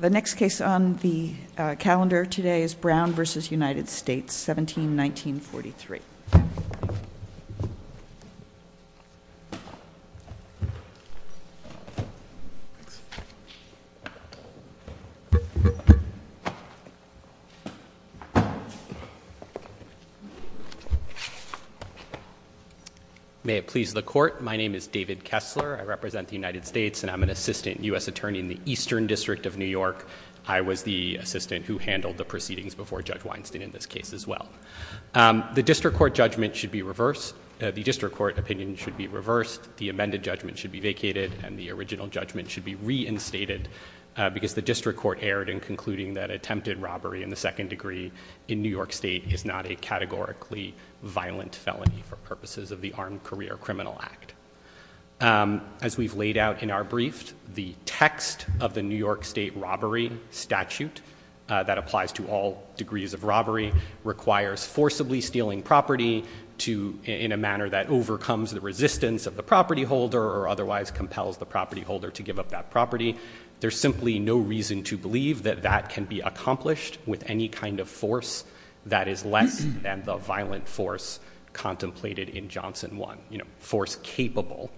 The next case on the calendar today is Brown v. United States, 17-1943. May it please the court, my name is David Kessler. I represent the United States, and I'm an assistant U.S. attorney in the Eastern District of New York. I was the assistant who handled the proceedings before Judge Weinstein in this case as well. The district court judgment should be reversed. The district court opinion should be reversed. The amended judgment should be vacated, and the original judgment should be reinstated, because the district court erred in concluding that attempted robbery in the second degree in New York State is not a categorically violent felony for purposes of the Armed Career Criminal Act. As we've laid out in our brief, the text of the New York State robbery statute that applies to all degrees of robbery requires forcibly stealing property in a manner that overcomes the resistance of the property holder, or otherwise compels the property holder to give up that property. There's simply no reason to believe that that can be accomplished with any kind of force that is less than the violent force contemplated in Johnson 1. You know, force capable.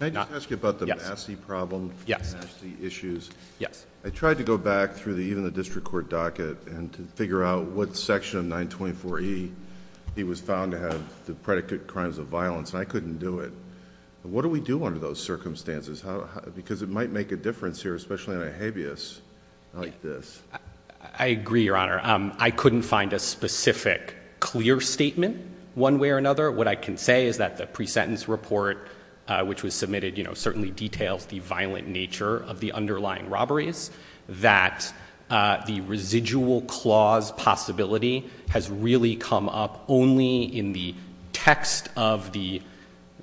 Can I just ask you about the Massey problem, the Massey issues? Yes. I tried to go back through even the district court docket and to figure out what section of 924E he was found to have the predicate crimes of violence, and I couldn't do it. What do we do under those circumstances? Because it might make a difference here, especially in a habeas like this. I agree, Your Honor. I couldn't find a specific clear statement one way or another. What I can say is that the pre-sentence report, which was submitted, certainly details the violent nature of the underlying robberies. That the residual clause possibility has really come up only in the text of the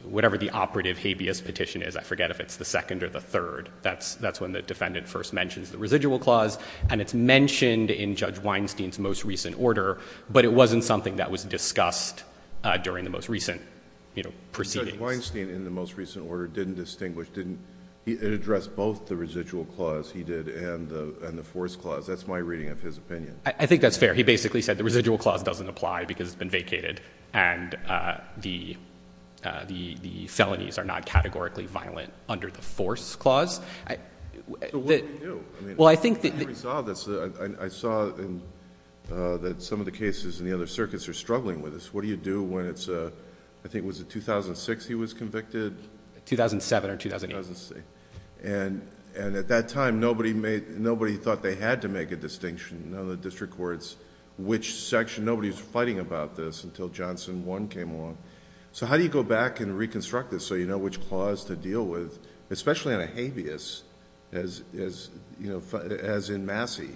whatever the operative habeas petition is. I forget if it's the second or the third. That's when the defendant first mentions the residual clause. And it's mentioned in Judge Weinstein's most recent order, but it wasn't something that was discussed during the most recent proceedings. Judge Weinstein, in the most recent order, didn't distinguish, didn't address both the residual clause he did and the force clause. That's my reading of his opinion. I think that's fair. He basically said the residual clause doesn't apply because it's been vacated and the felonies are not categorically violent under the force clause. So what do we do? Well, I think that the We saw this. I saw that some of the cases in the other circuits are struggling with this. What do you do when it's, I think it was in 2006 he was convicted? 2007 or 2008. And at that time, nobody thought they had to make a distinction in the district courts which section, nobody's fighting about this until Johnson 1 came along. So how do you go back and reconstruct this so you know which clause to deal with, especially on a habeas, as in Massey,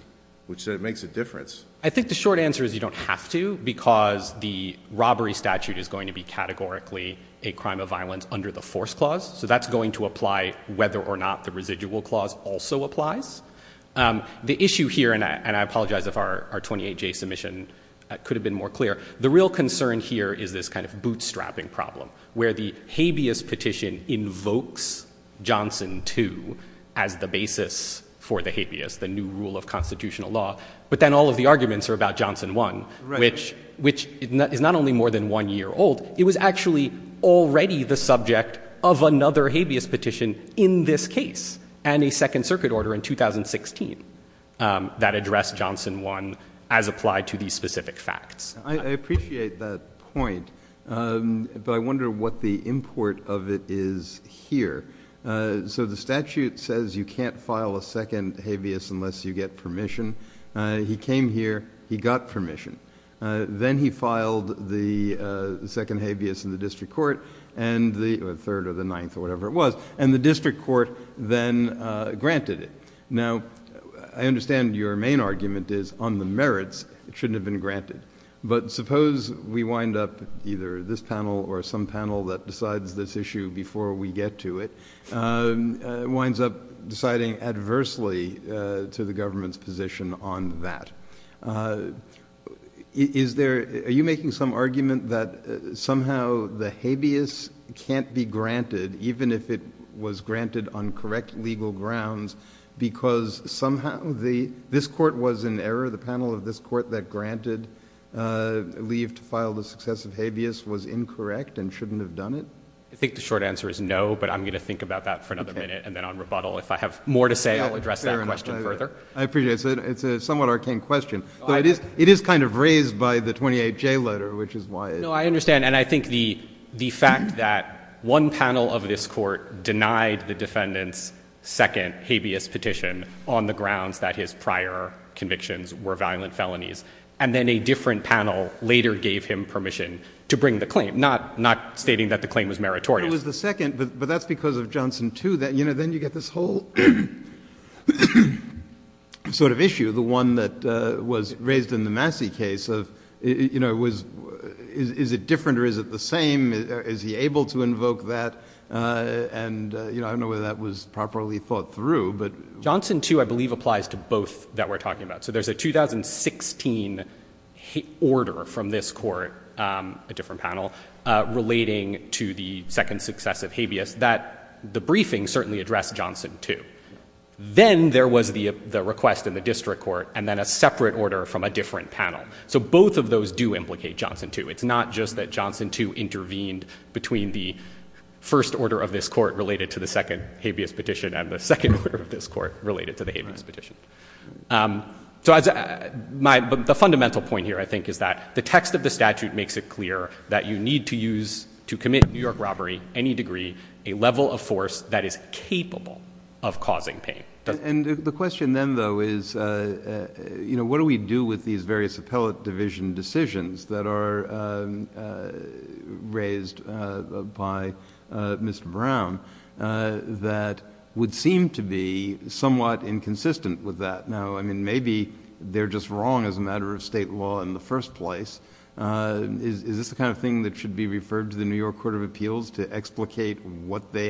which said it makes a difference. I think the short answer is you don't have to because the robbery statute is going to be categorically a crime of violence under the force clause. So that's going to apply whether or not the residual clause also applies. The issue here, and I apologize if our 28-J submission could have been more clear. The real concern here is this kind of bootstrapping problem where the habeas petition invokes Johnson 2 as the basis for the habeas, the new rule of constitutional law. But then all of the arguments are about Johnson 1, which is not only more than one year old, it was actually already the subject of another habeas petition in this case and a second circuit order in 2016 that addressed Johnson 1 as applied to these specific facts. I appreciate that point, but I wonder what the import of it is here. So the statute says you can't file a second habeas unless you get permission. He came here, he got permission. Then he filed the second habeas in the district court, and the third or the ninth or whatever it was, and the district court then granted it. Now, I understand your main argument is on the merits, it shouldn't have been granted. But suppose we wind up either this panel or some panel that decides this issue before we get to it, winds up deciding adversely to the government's position on that. Are you making some argument that somehow the habeas can't be granted even if it was granted on correct legal grounds because somehow this court was in error, the panel of this court that granted leave to file the successive habeas was incorrect and shouldn't have done it? I think the short answer is no, but I'm going to think about that for another minute and then on rebuttal, if I have more to say, I'll address that question further. I appreciate it. It's a somewhat arcane question. It is kind of raised by the 28J letter, which is why. No, I understand. And I think the fact that one panel of this court denied the defendant's second habeas petition on the grounds that his prior convictions were violent felonies, and then a different panel later gave him permission to bring the claim, not stating that the claim was meritorious. But it was the second, but that's because of Johnson two, then you get this whole sort of issue, the one that was raised in the Massey case of, is it different or is it the same? Is he able to invoke that? And I don't know whether that was properly thought through. Johnson two, I believe applies to both that we're talking about. So there's a 2016 order from this court, a different panel, relating to the second successive habeas that the briefing certainly addressed Johnson two. Then there was the request in the district court and then a separate order from a different panel. So both of those do implicate Johnson two. It's not just that Johnson two intervened between the first order of this court related to the second habeas petition and the second order of this court related to the habeas petition. So the fundamental point here, I think, is that the text of the statute makes it clear that you need to use to commit New York robbery, any degree, a level of force that is capable of causing pain. And the question then though is, what do we do with these various appellate division decisions that are raised by Mr. Brown that would seem to be somewhat inconsistent with that? Now, I mean, maybe they're just wrong as a matter of state law in the first place. Is this the kind of thing that should be referred to the New York Court of Appeals to explicate what the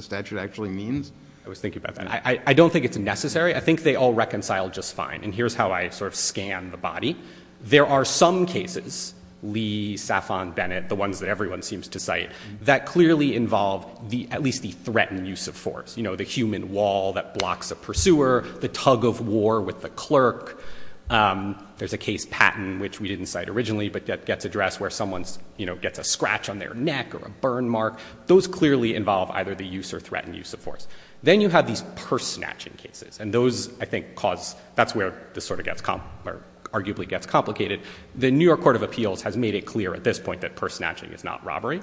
statute actually means? I was thinking about that. I don't think it's necessary. I think they all reconcile just fine. And here's how I sort of scan the body. There are some cases, Lee, Saffron, Bennett, the ones that everyone seems to cite, you know, the human wall that blocks a pursuer, the tug of war with the clerk. There's a case, Patton, which we didn't cite originally, but that gets addressed where someone's, you know, gets a scratch on their neck or a burn mark. Those clearly involve either the use or threatened use of force. Then you have these purse snatching cases. And those, I think, cause, that's where this sort of gets, or arguably gets complicated. The New York Court of Appeals has made it clear at this point that purse snatching is not robbery.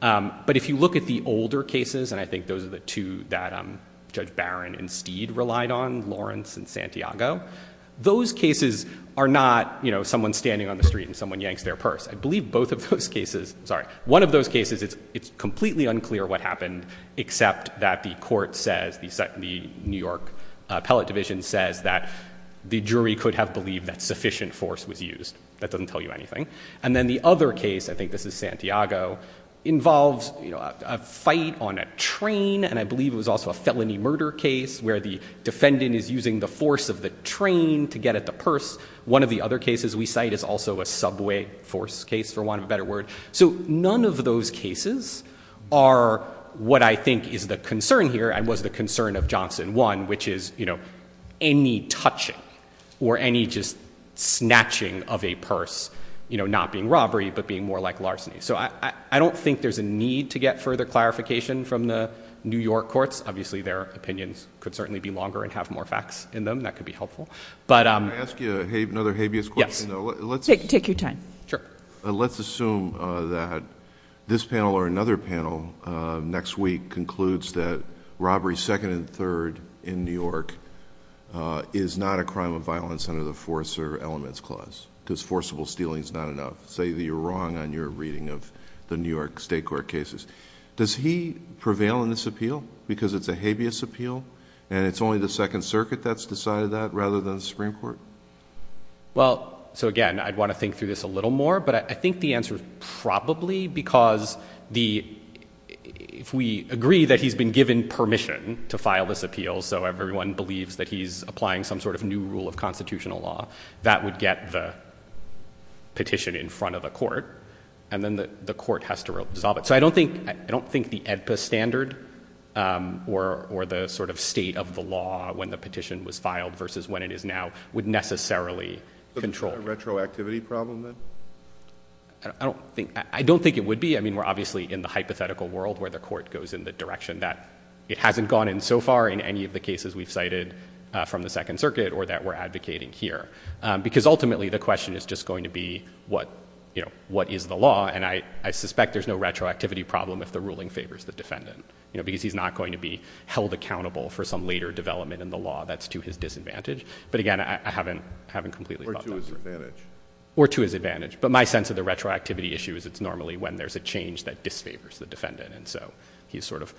But if you look at the older cases, and I think those are the two that Judge Barron and Steed relied on, Lawrence and Santiago, those cases are not, you know, someone standing on the street and someone yanks their purse. I believe both of those cases, sorry, one of those cases, it's completely unclear what happened, except that the court says, the New York Appellate Division says that the jury could have believed that sufficient force was used. That doesn't tell you anything. And then the other case, I think this is Santiago, involves, you know, a fight on a train. And I believe it was also a felony murder case where the defendant is using the force of the train to get at the purse. One of the other cases we cite is also a subway force case, for want of a better word. So none of those cases are what I think is the concern here and was the concern of Johnson one, which is, you know, any touching or any just snatching of a purse, you know, not being robbery, but being more like larceny. So I don't think there's a need to get further clarification from the New York courts. Obviously, their opinions could certainly be longer and have more facts in them. That could be helpful. But- Can I ask you another habeas question though? Let's- Take your time. Sure. Let's assume that this panel or another panel next week concludes that robbery second and third in New York is not a crime of violence under the Forcer Elements Clause, because forcible stealing is not enough. Say that you're wrong on your reading of the New York state court cases. Does he prevail in this appeal because it's a habeas appeal and it's only the Second Circuit that's decided that rather than the Supreme Court? Well, so again, I'd want to think through this a little more, but I think the answer is probably because if we agree that he's been given permission to file this appeal, so everyone believes that he's applying some sort of new rule of constitutional law, that would get the petition in front of the court. And then the court has to resolve it. So I don't think the AEDPA standard or the sort of state of the law when the petition was filed versus when it is now would necessarily control. Retroactivity problem then? I don't think it would be. I mean, we're obviously in the hypothetical world where the court goes in the direction that it hasn't gone in so far in any of the cases we've cited from the Second Circuit or that we're advocating here. Because ultimately the question is just going to be what is the law? And I suspect there's no retroactivity problem if the ruling favors the defendant. Because he's not going to be held accountable for some later development in the law that's to his disadvantage. But again, I haven't completely thought that through. Or to his advantage. Or to his advantage. But my sense of the retroactivity issue is it's normally when there's a change that disfavors the defendant. And so he's sort of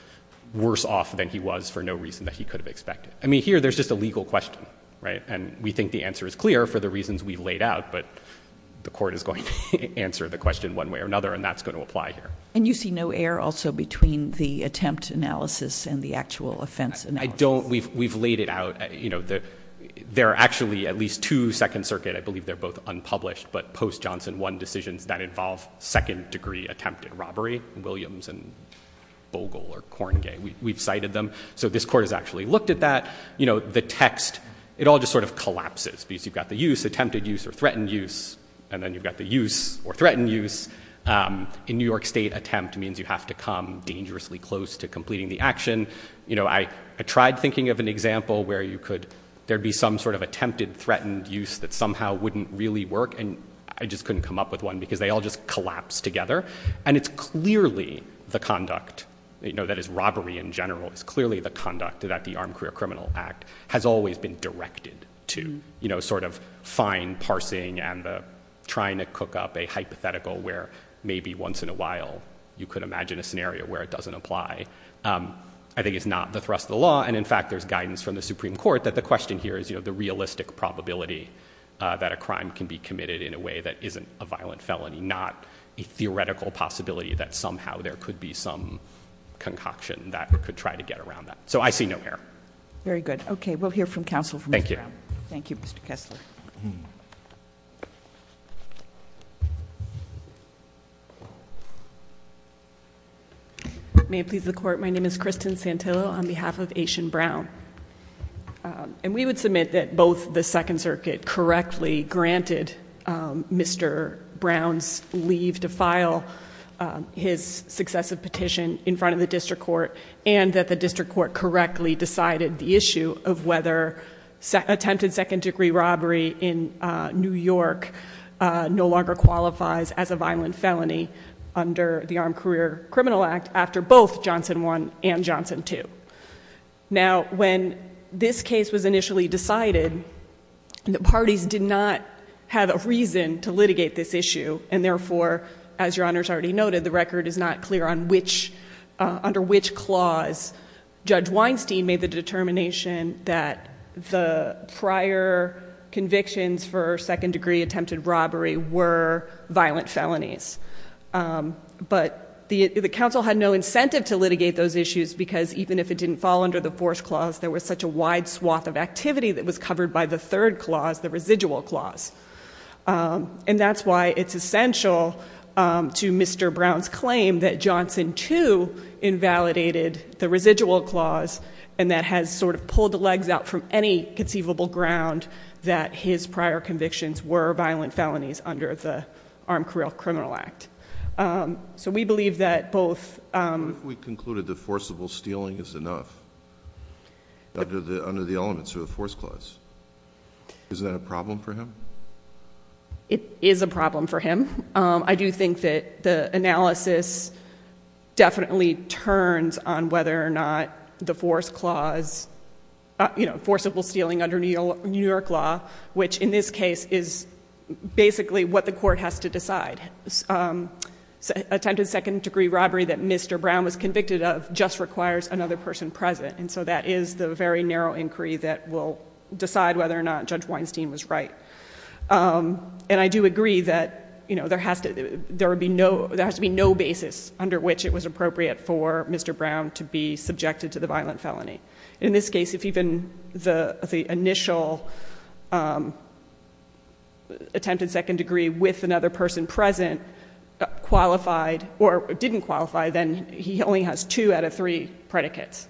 worse off than he was for no reason that he could have expected. I mean, here there's just a legal question, right? And we think the answer is clear for the reasons we've laid out, but the court is going to answer the question one way or another. And that's going to apply here. And you see no error also between the attempt analysis and the actual offense analysis? We've laid it out. You know, there are actually at least two Second Circuit, I believe they're both unpublished, but post-Johnson one decisions that involve second degree attempted robbery. Williams and Bogle or Corngay, we've cited them. So this court has actually looked at that. You know, the text, it all just sort of collapses. Because you've got the use, attempted use or threatened use. And then you've got the use or threatened use. In New York state attempt means you have to come dangerously close to completing the action. You know, I tried thinking of an example where you could, there'd be some sort of attempted threatened use that somehow wouldn't really work. And I just couldn't come up with one because they all just collapse together. And it's clearly the conduct, you know, that is robbery in general, it's clearly the conduct that the Armed Career Criminal Act has always been directed to, you know, sort of fine parsing and the trying to cook up a hypothetical where maybe once in a while you could imagine a scenario where it doesn't apply. I think it's not the thrust of the law. And in fact, there's guidance from the Supreme Court that the question here is, you know, the realistic probability that a crime can be committed in a way that isn't a violent felony, not a theoretical possibility that somehow there could be some concoction that we could try to get around that. So I see no error. Very good. Okay, we'll hear from counsel from Mr. Brown. Thank you, Mr. Kessler. May it please the court. My name is Kristen Santillo on behalf of Aitian Brown. And we would submit that both the Second Circuit correctly granted Mr. Brown's leave to file his successive petition in front of the district court and that the district court correctly decided the issue of whether attempted second degree robbery in New York no longer qualifies as a violent felony under the Armed Career Criminal Act after both Johnson one and Johnson two. Now, when this case was initially decided, the parties did not have a reason to litigate this issue. And therefore, as your honors already noted, the record is not clear under which clause Judge Weinstein made the determination that the prior convictions for second degree attempted robbery were violent felonies. But the council had no incentive to litigate those issues because even if it didn't fall under the force clause, there was such a wide swath of activity that was covered by the third clause, the residual clause. And that's why it's essential to Mr. Brown's claim that Johnson two invalidated the residual clause and that has sort of pulled the legs out from any conceivable ground that his prior convictions were violent felonies under the Armed Career Criminal Act. So we believe that both... What if we concluded that forcible stealing is enough under the elements of the force clause? Is that a problem for him? It is a problem for him. I do think that the analysis definitely turns on whether or not the force clause, forcible stealing under New York law, which in this case is basically what the court has to decide. Attempted second degree robbery that Mr. Brown was convicted of just requires another person present. And so that is the very narrow inquiry that will decide whether or not Judge Weinstein was right. And I do agree that there has to be no basis under which it was appropriate for Mr. Brown to be subjected to the violent felony. In this case, if even the initial attempted second degree with another person present qualified or didn't qualify, then he only has two out of three predicates.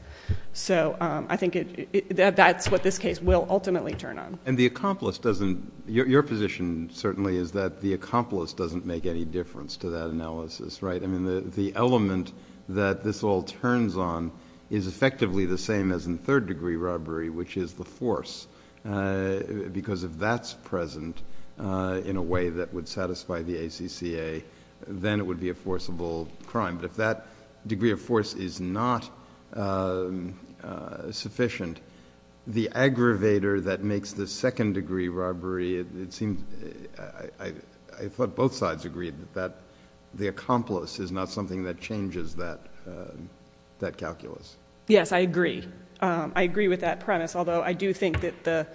So I think that's what this case will ultimately turn on. And the accomplice doesn't... Your position certainly is that the accomplice doesn't make any difference to that analysis, right? I mean, the element that this all turns on is effectively the same as in third degree robbery, which is the force. Because if that's present in a way that would satisfy the ACCA, then it would be a forcible crime. But if that degree of force is not sufficient, the aggravator that makes the second degree robbery, it seems, I thought both sides agreed that the accomplice is not something that changes that calculus. Yes, I agree. I agree with that premise. Although I do think that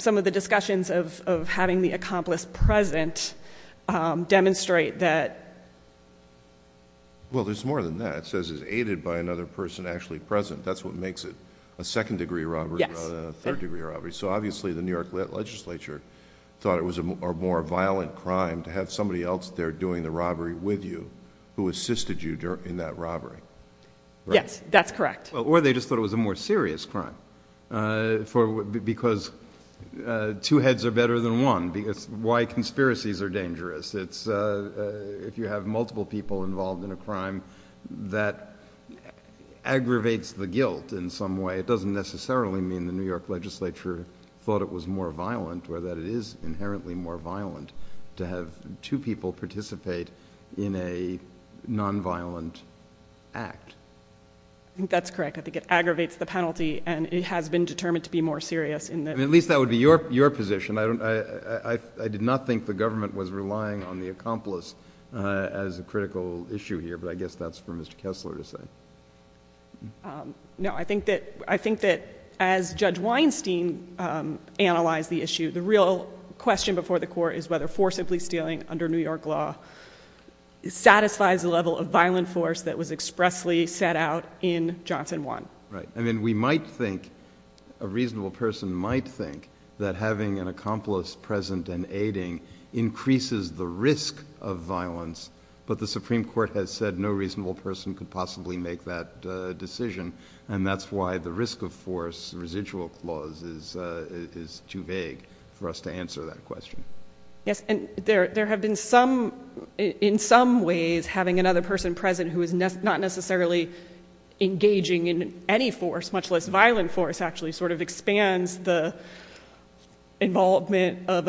some of the discussions of having the accomplice present demonstrate that Well, there's more than that. It says it's aided by another person actually present. That's what makes it a second degree robbery rather than a third degree robbery. So obviously the New York legislature thought it was a more violent crime to have somebody else there doing the robbery with you who assisted you in that robbery. Yes, that's correct. Or they just thought it was a more serious crime for because two heads are better than one because why conspiracies are dangerous. It's if you have multiple people involved in a crime that aggravates the guilt in some way, it doesn't necessarily mean the New York legislature thought it was more violent or that it is inherently more violent to have two people participate in a nonviolent act. That's correct. I think it aggravates the penalty and it has been determined to be more serious in that. At least that would be your position. I did not think the government was relying on the accomplice as a critical issue here, but I guess that's for Mr. Kessler to say. No, I think that as Judge Weinstein analyzed the issue, the real question before the court is whether forcibly stealing under New York law satisfies the level of violent force that was expressly set out in Johnson One. Right, I mean, we might think, a reasonable person might think that having an accomplice present and aiding increases the risk of violence, but the Supreme Court has said no reasonable person could possibly make that decision, and that's why the risk of force residual clause is too vague for us to answer that question. Yes, and there have been some, in some ways, having another person present who is not necessarily engaging in any force, much less violent force, and I think that this actually sort of expands the involvement of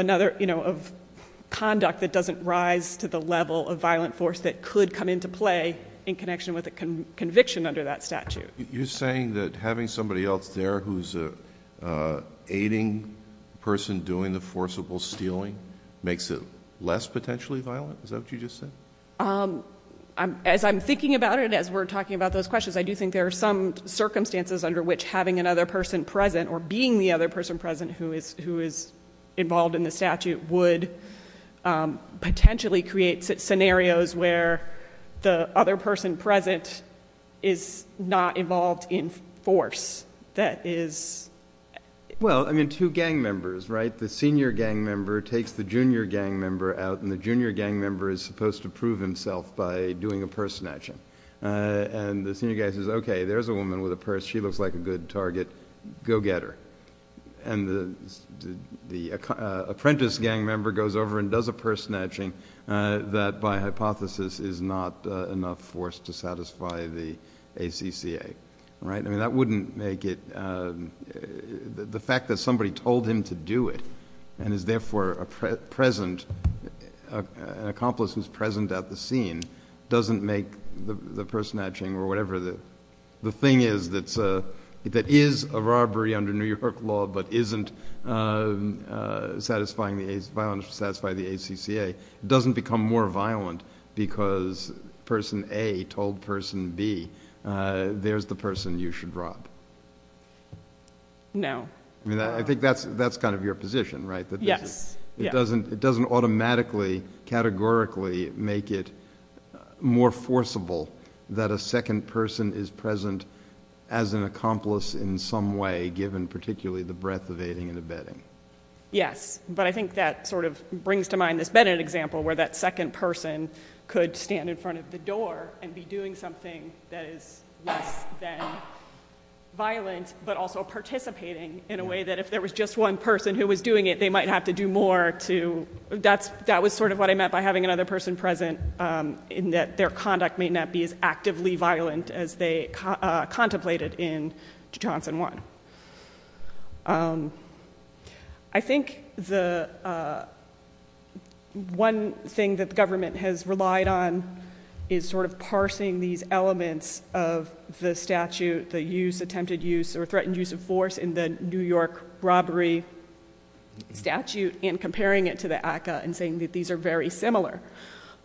conduct that doesn't rise to the level of violent force that could come into play in connection with a conviction under that statute. You're saying that having somebody else there who's an aiding person doing the forcible stealing makes it less potentially violent? Is that what you just said? As I'm thinking about it, as we're talking about those questions, I do think there are some circumstances under which having another person present or being the other person present who is involved in the statute would potentially create scenarios where the other person present is not involved in force that is... Well, I mean, two gang members, right? The senior gang member takes the junior gang member out, and the junior gang member is supposed to prove himself by doing a purse snatching, and the senior guy says, okay, there's a woman with a purse, she looks like a good target, go get her. And the apprentice gang member goes over and does a purse snatching that, by hypothesis, is not enough force to satisfy the ACCA, right? I mean, that wouldn't make it... The fact that somebody told him to do it and is therefore a present, an accomplice who's present at the scene doesn't make the purse snatching or whatever the thing is that is a robbery under New York law but isn't satisfying the ACCA. It doesn't become more violent because person A told person B, there's the person you should rob. No. I mean, I think that's kind of your position, right? Yes, yeah. It doesn't automatically, categorically, make it more forcible that a second person is present as an accomplice in some way, given particularly the breadth of aiding and abetting. Yes, but I think that sort of brings to mind this Bennett example where that second person could stand in front of the door and be doing something that is less than violent but also participating in a way that if there was just one person who was doing it, they might have to do more to... That was sort of what I meant by having another person present in that their conduct may not be as actively violent as they contemplated in Johnson One. I think the one thing that the government has relied on is sort of parsing these elements of the statute, the use, attempted use, or threatened use of force in the New York robbery statute and comparing it to the ACCA and saying that these are very similar.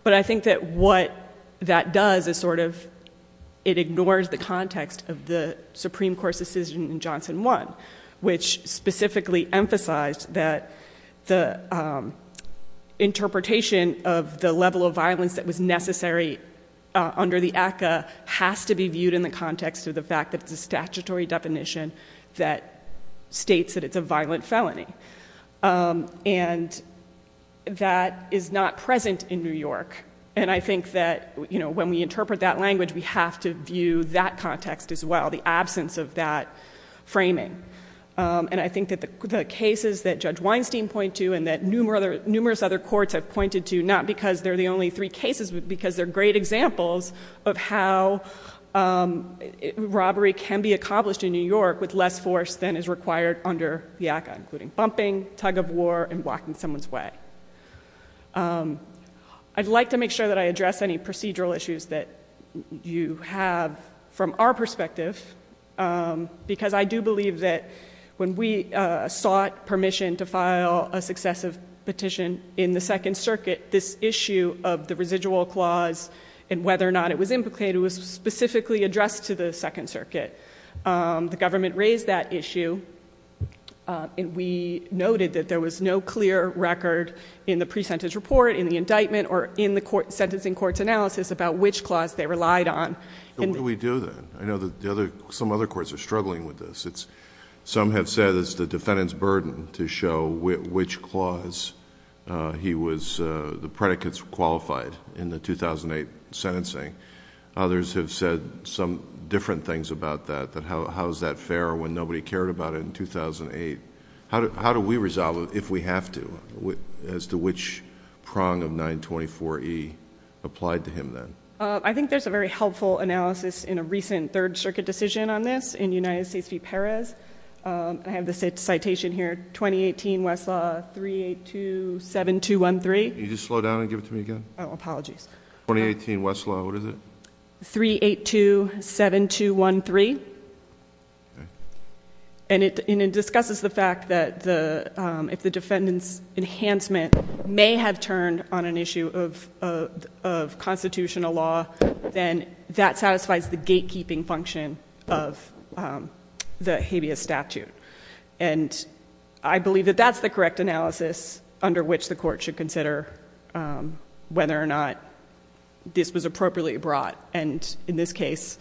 But I think that what that does is sort of, it ignores the context of the Supreme Court's decision in Johnson One, which specifically emphasized that the interpretation of the level of violence that was necessary under the ACCA has to be viewed in the context of the fact that it's a statutory definition that states that it's a violent felony. And that is not present in New York. And I think that when we interpret that language, we have to view that context as well, the absence of that framing. And I think that the cases that Judge Weinstein point to and that numerous other courts have pointed to, not because they're the only three cases, because they're great examples of how robbery can be accomplished in New York with less force than is required under the ACCA, including bumping, tug of war, and blocking someone's way. I'd like to make sure that I address any procedural issues that you have from our perspective, because I do believe that when we sought permission to file a successive petition in the Second Circuit, this issue of the residual clause and whether or not it was implicated was specifically addressed to the Second Circuit. The government raised that issue, and we noted that there was no clear record in the pre-sentence report, in the indictment, or in the sentencing court's analysis about which clause they relied on. And we do that. I know that some other courts are struggling with this. Some have said it's the defendant's burden to show which clause he was, the predicates qualified in the 2008 sentencing. Others have said some different things about that, that how is that fair when nobody cared about it in 2008? How do we resolve it if we have to, as to which prong of 924E applied to him then? I think there's a very helpful analysis in a recent Third Circuit decision on this in United States v. Perez. I have the citation here, 2018 Westlaw 3827213. Can you just slow down and give it to me again? Oh, apologies. 2018 Westlaw, what is it? 3827213. And it discusses the fact that if the defendant's enhancement may have turned on an issue of constitutional law, then that satisfies the gatekeeping function of the habeas statute. And I believe that that's the correct analysis under which the court should consider whether or not this was appropriately brought. And in this case,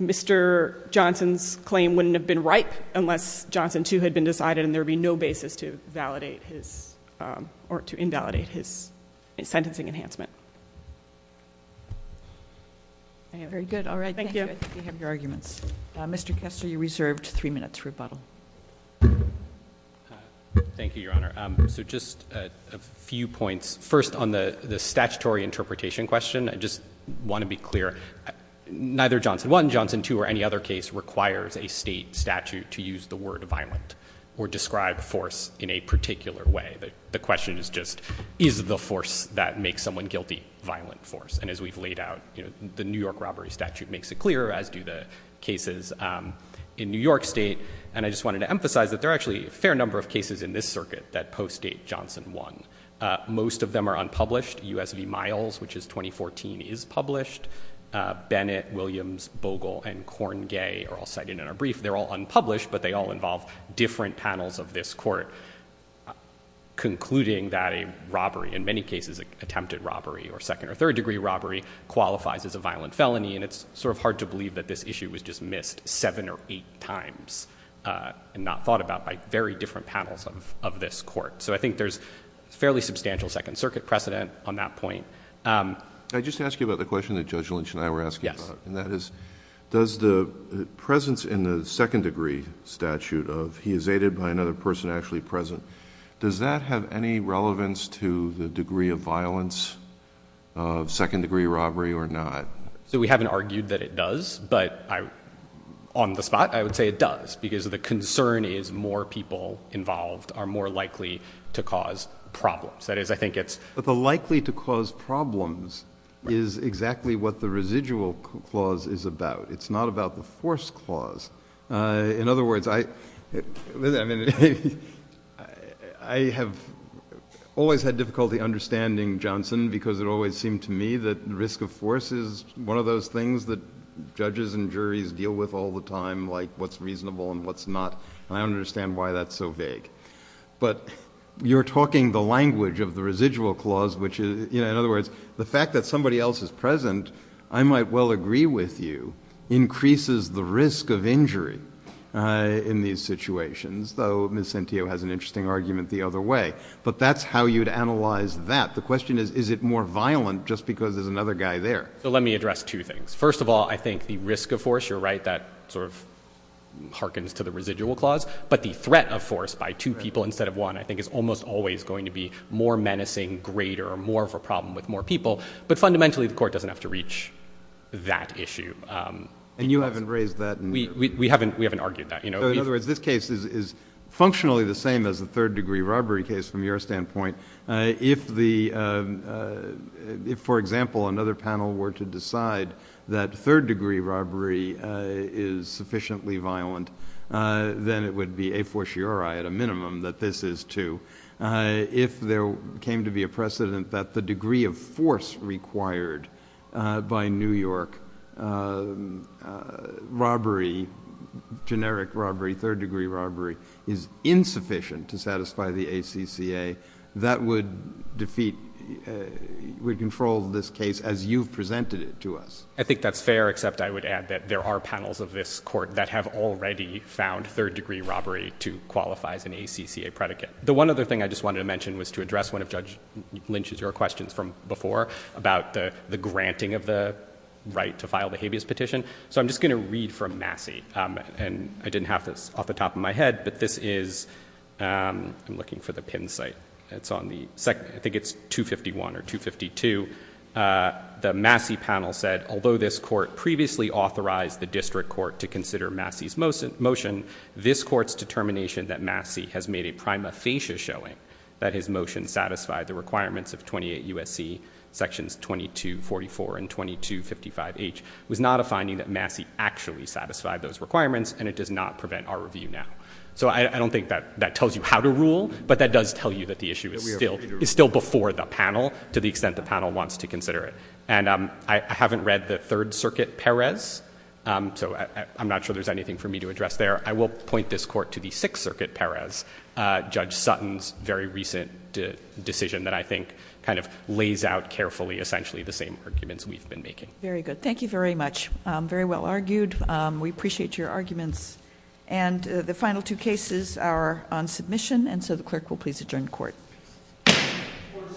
Mr. Johnson's claim wouldn't have been ripe unless Johnson too had been decided and there'd be no basis to invalidate his sentencing enhancement. Very good, all right. Thank you. I think we have your arguments. Mr. Kester, you're reserved three minutes rebuttal. Thank you, Your Honor. So just a few points. First, on the statutory interpretation question, I just want to be clear. Neither Johnson 1, Johnson 2, or any other case requires a state statute to use the word violent or describe force in a particular way. The question is just, is the force that makes someone guilty violent force? And as we've laid out, the New York robbery statute makes it clear, as do the cases in New York state. And I just wanted to emphasize that there are actually a fair number of cases in this circuit that post-date Johnson 1. Most of them are unpublished. US v. Miles, which is 2014, is published. Bennett, Williams, Bogle, and Corngay are all cited in our brief. They're all unpublished, but they all involve different panels of this court concluding that a robbery, in many cases, attempted robbery, or second or third degree robbery, qualifies as a violent felony. And it's sort of hard to believe that this issue was just missed seven or eight times and not thought about by very different panels of this court. So I think there's fairly substantial Second Circuit precedent on that point. I just asked you about the question that Judge Lynch and I were asking about, and that is, does the presence in the second degree statute of he is aided by another person actually present, does that have any relevance to the degree of violence of second degree robbery or not? So we haven't argued that it does, but on the spot, I would say it does, because the concern is more people involved are more likely to cause problems. That is, I think it's. But the likely to cause problems is exactly what the residual clause is about. It's not about the force clause. In other words, I have always had difficulty understanding, Johnson, because it always seemed to me that risk of force is one of those things that judges and juries deal with all the time, like what's reasonable and what's not, and I don't understand why that's so vague. But you're talking the language of the residual clause, which is, in other words, the fact that somebody else is present, I might well agree with you, increases the risk of injury in these situations, though Ms. Centio has an interesting argument the other way. But that's how you'd analyze that. The question is, is it more violent just because there's another guy there? So let me address two things. First of all, I think the risk of force, you're right, that sort of hearkens to the residual clause, but the threat of force by two people instead of one I think is almost always going to be more menacing, greater, more of a problem with more people. But fundamentally, the court doesn't have to reach that issue. And you haven't raised that in your. We haven't argued that. So in other words, this case is functionally the same as the third-degree robbery case from your standpoint. If, for example, another panel were to decide that third-degree robbery is sufficiently violent, then it would be a fortiori at a minimum that this is too. If there came to be a precedent that the degree of force required by New York, robbery, generic robbery, third-degree robbery is insufficient to satisfy the ACCA, that would defeat, would control this case as you've presented it to us. I think that's fair, except I would add that there are panels of this court that have already found third-degree robbery to qualify as an ACCA predicate. The one other thing I just wanted to mention was to address one of Judge Lynch's, your questions from before about the granting of the right to file the habeas petition. So I'm just gonna read from Massey. And I didn't have this off the top of my head, but this is, I'm looking for the pin site. It's on the second, I think it's 251 or 252. The Massey panel said, although this court previously authorized the district court to consider Massey's motion, this court's determination that Massey has made a prima facie showing that his motion satisfied the requirements of 28 USC sections 2244 and 2255H was not a finding that Massey actually satisfied those requirements and it does not prevent our review now. So I don't think that that tells you how to rule, but that does tell you that the issue is still before the panel to the extent the panel wants to consider it. And I haven't read the Third Circuit Perez. So I'm not sure there's anything for me to address there. I will point this court to the Sixth Circuit Perez, Judge Sutton's very recent decision that I think kind of lays out carefully essentially the same arguments we've been making. Very good. Thank you very much. Very well argued. We appreciate your arguments. And the final two cases are on submission. And so the clerk will please adjourn the court. Court is adjourned.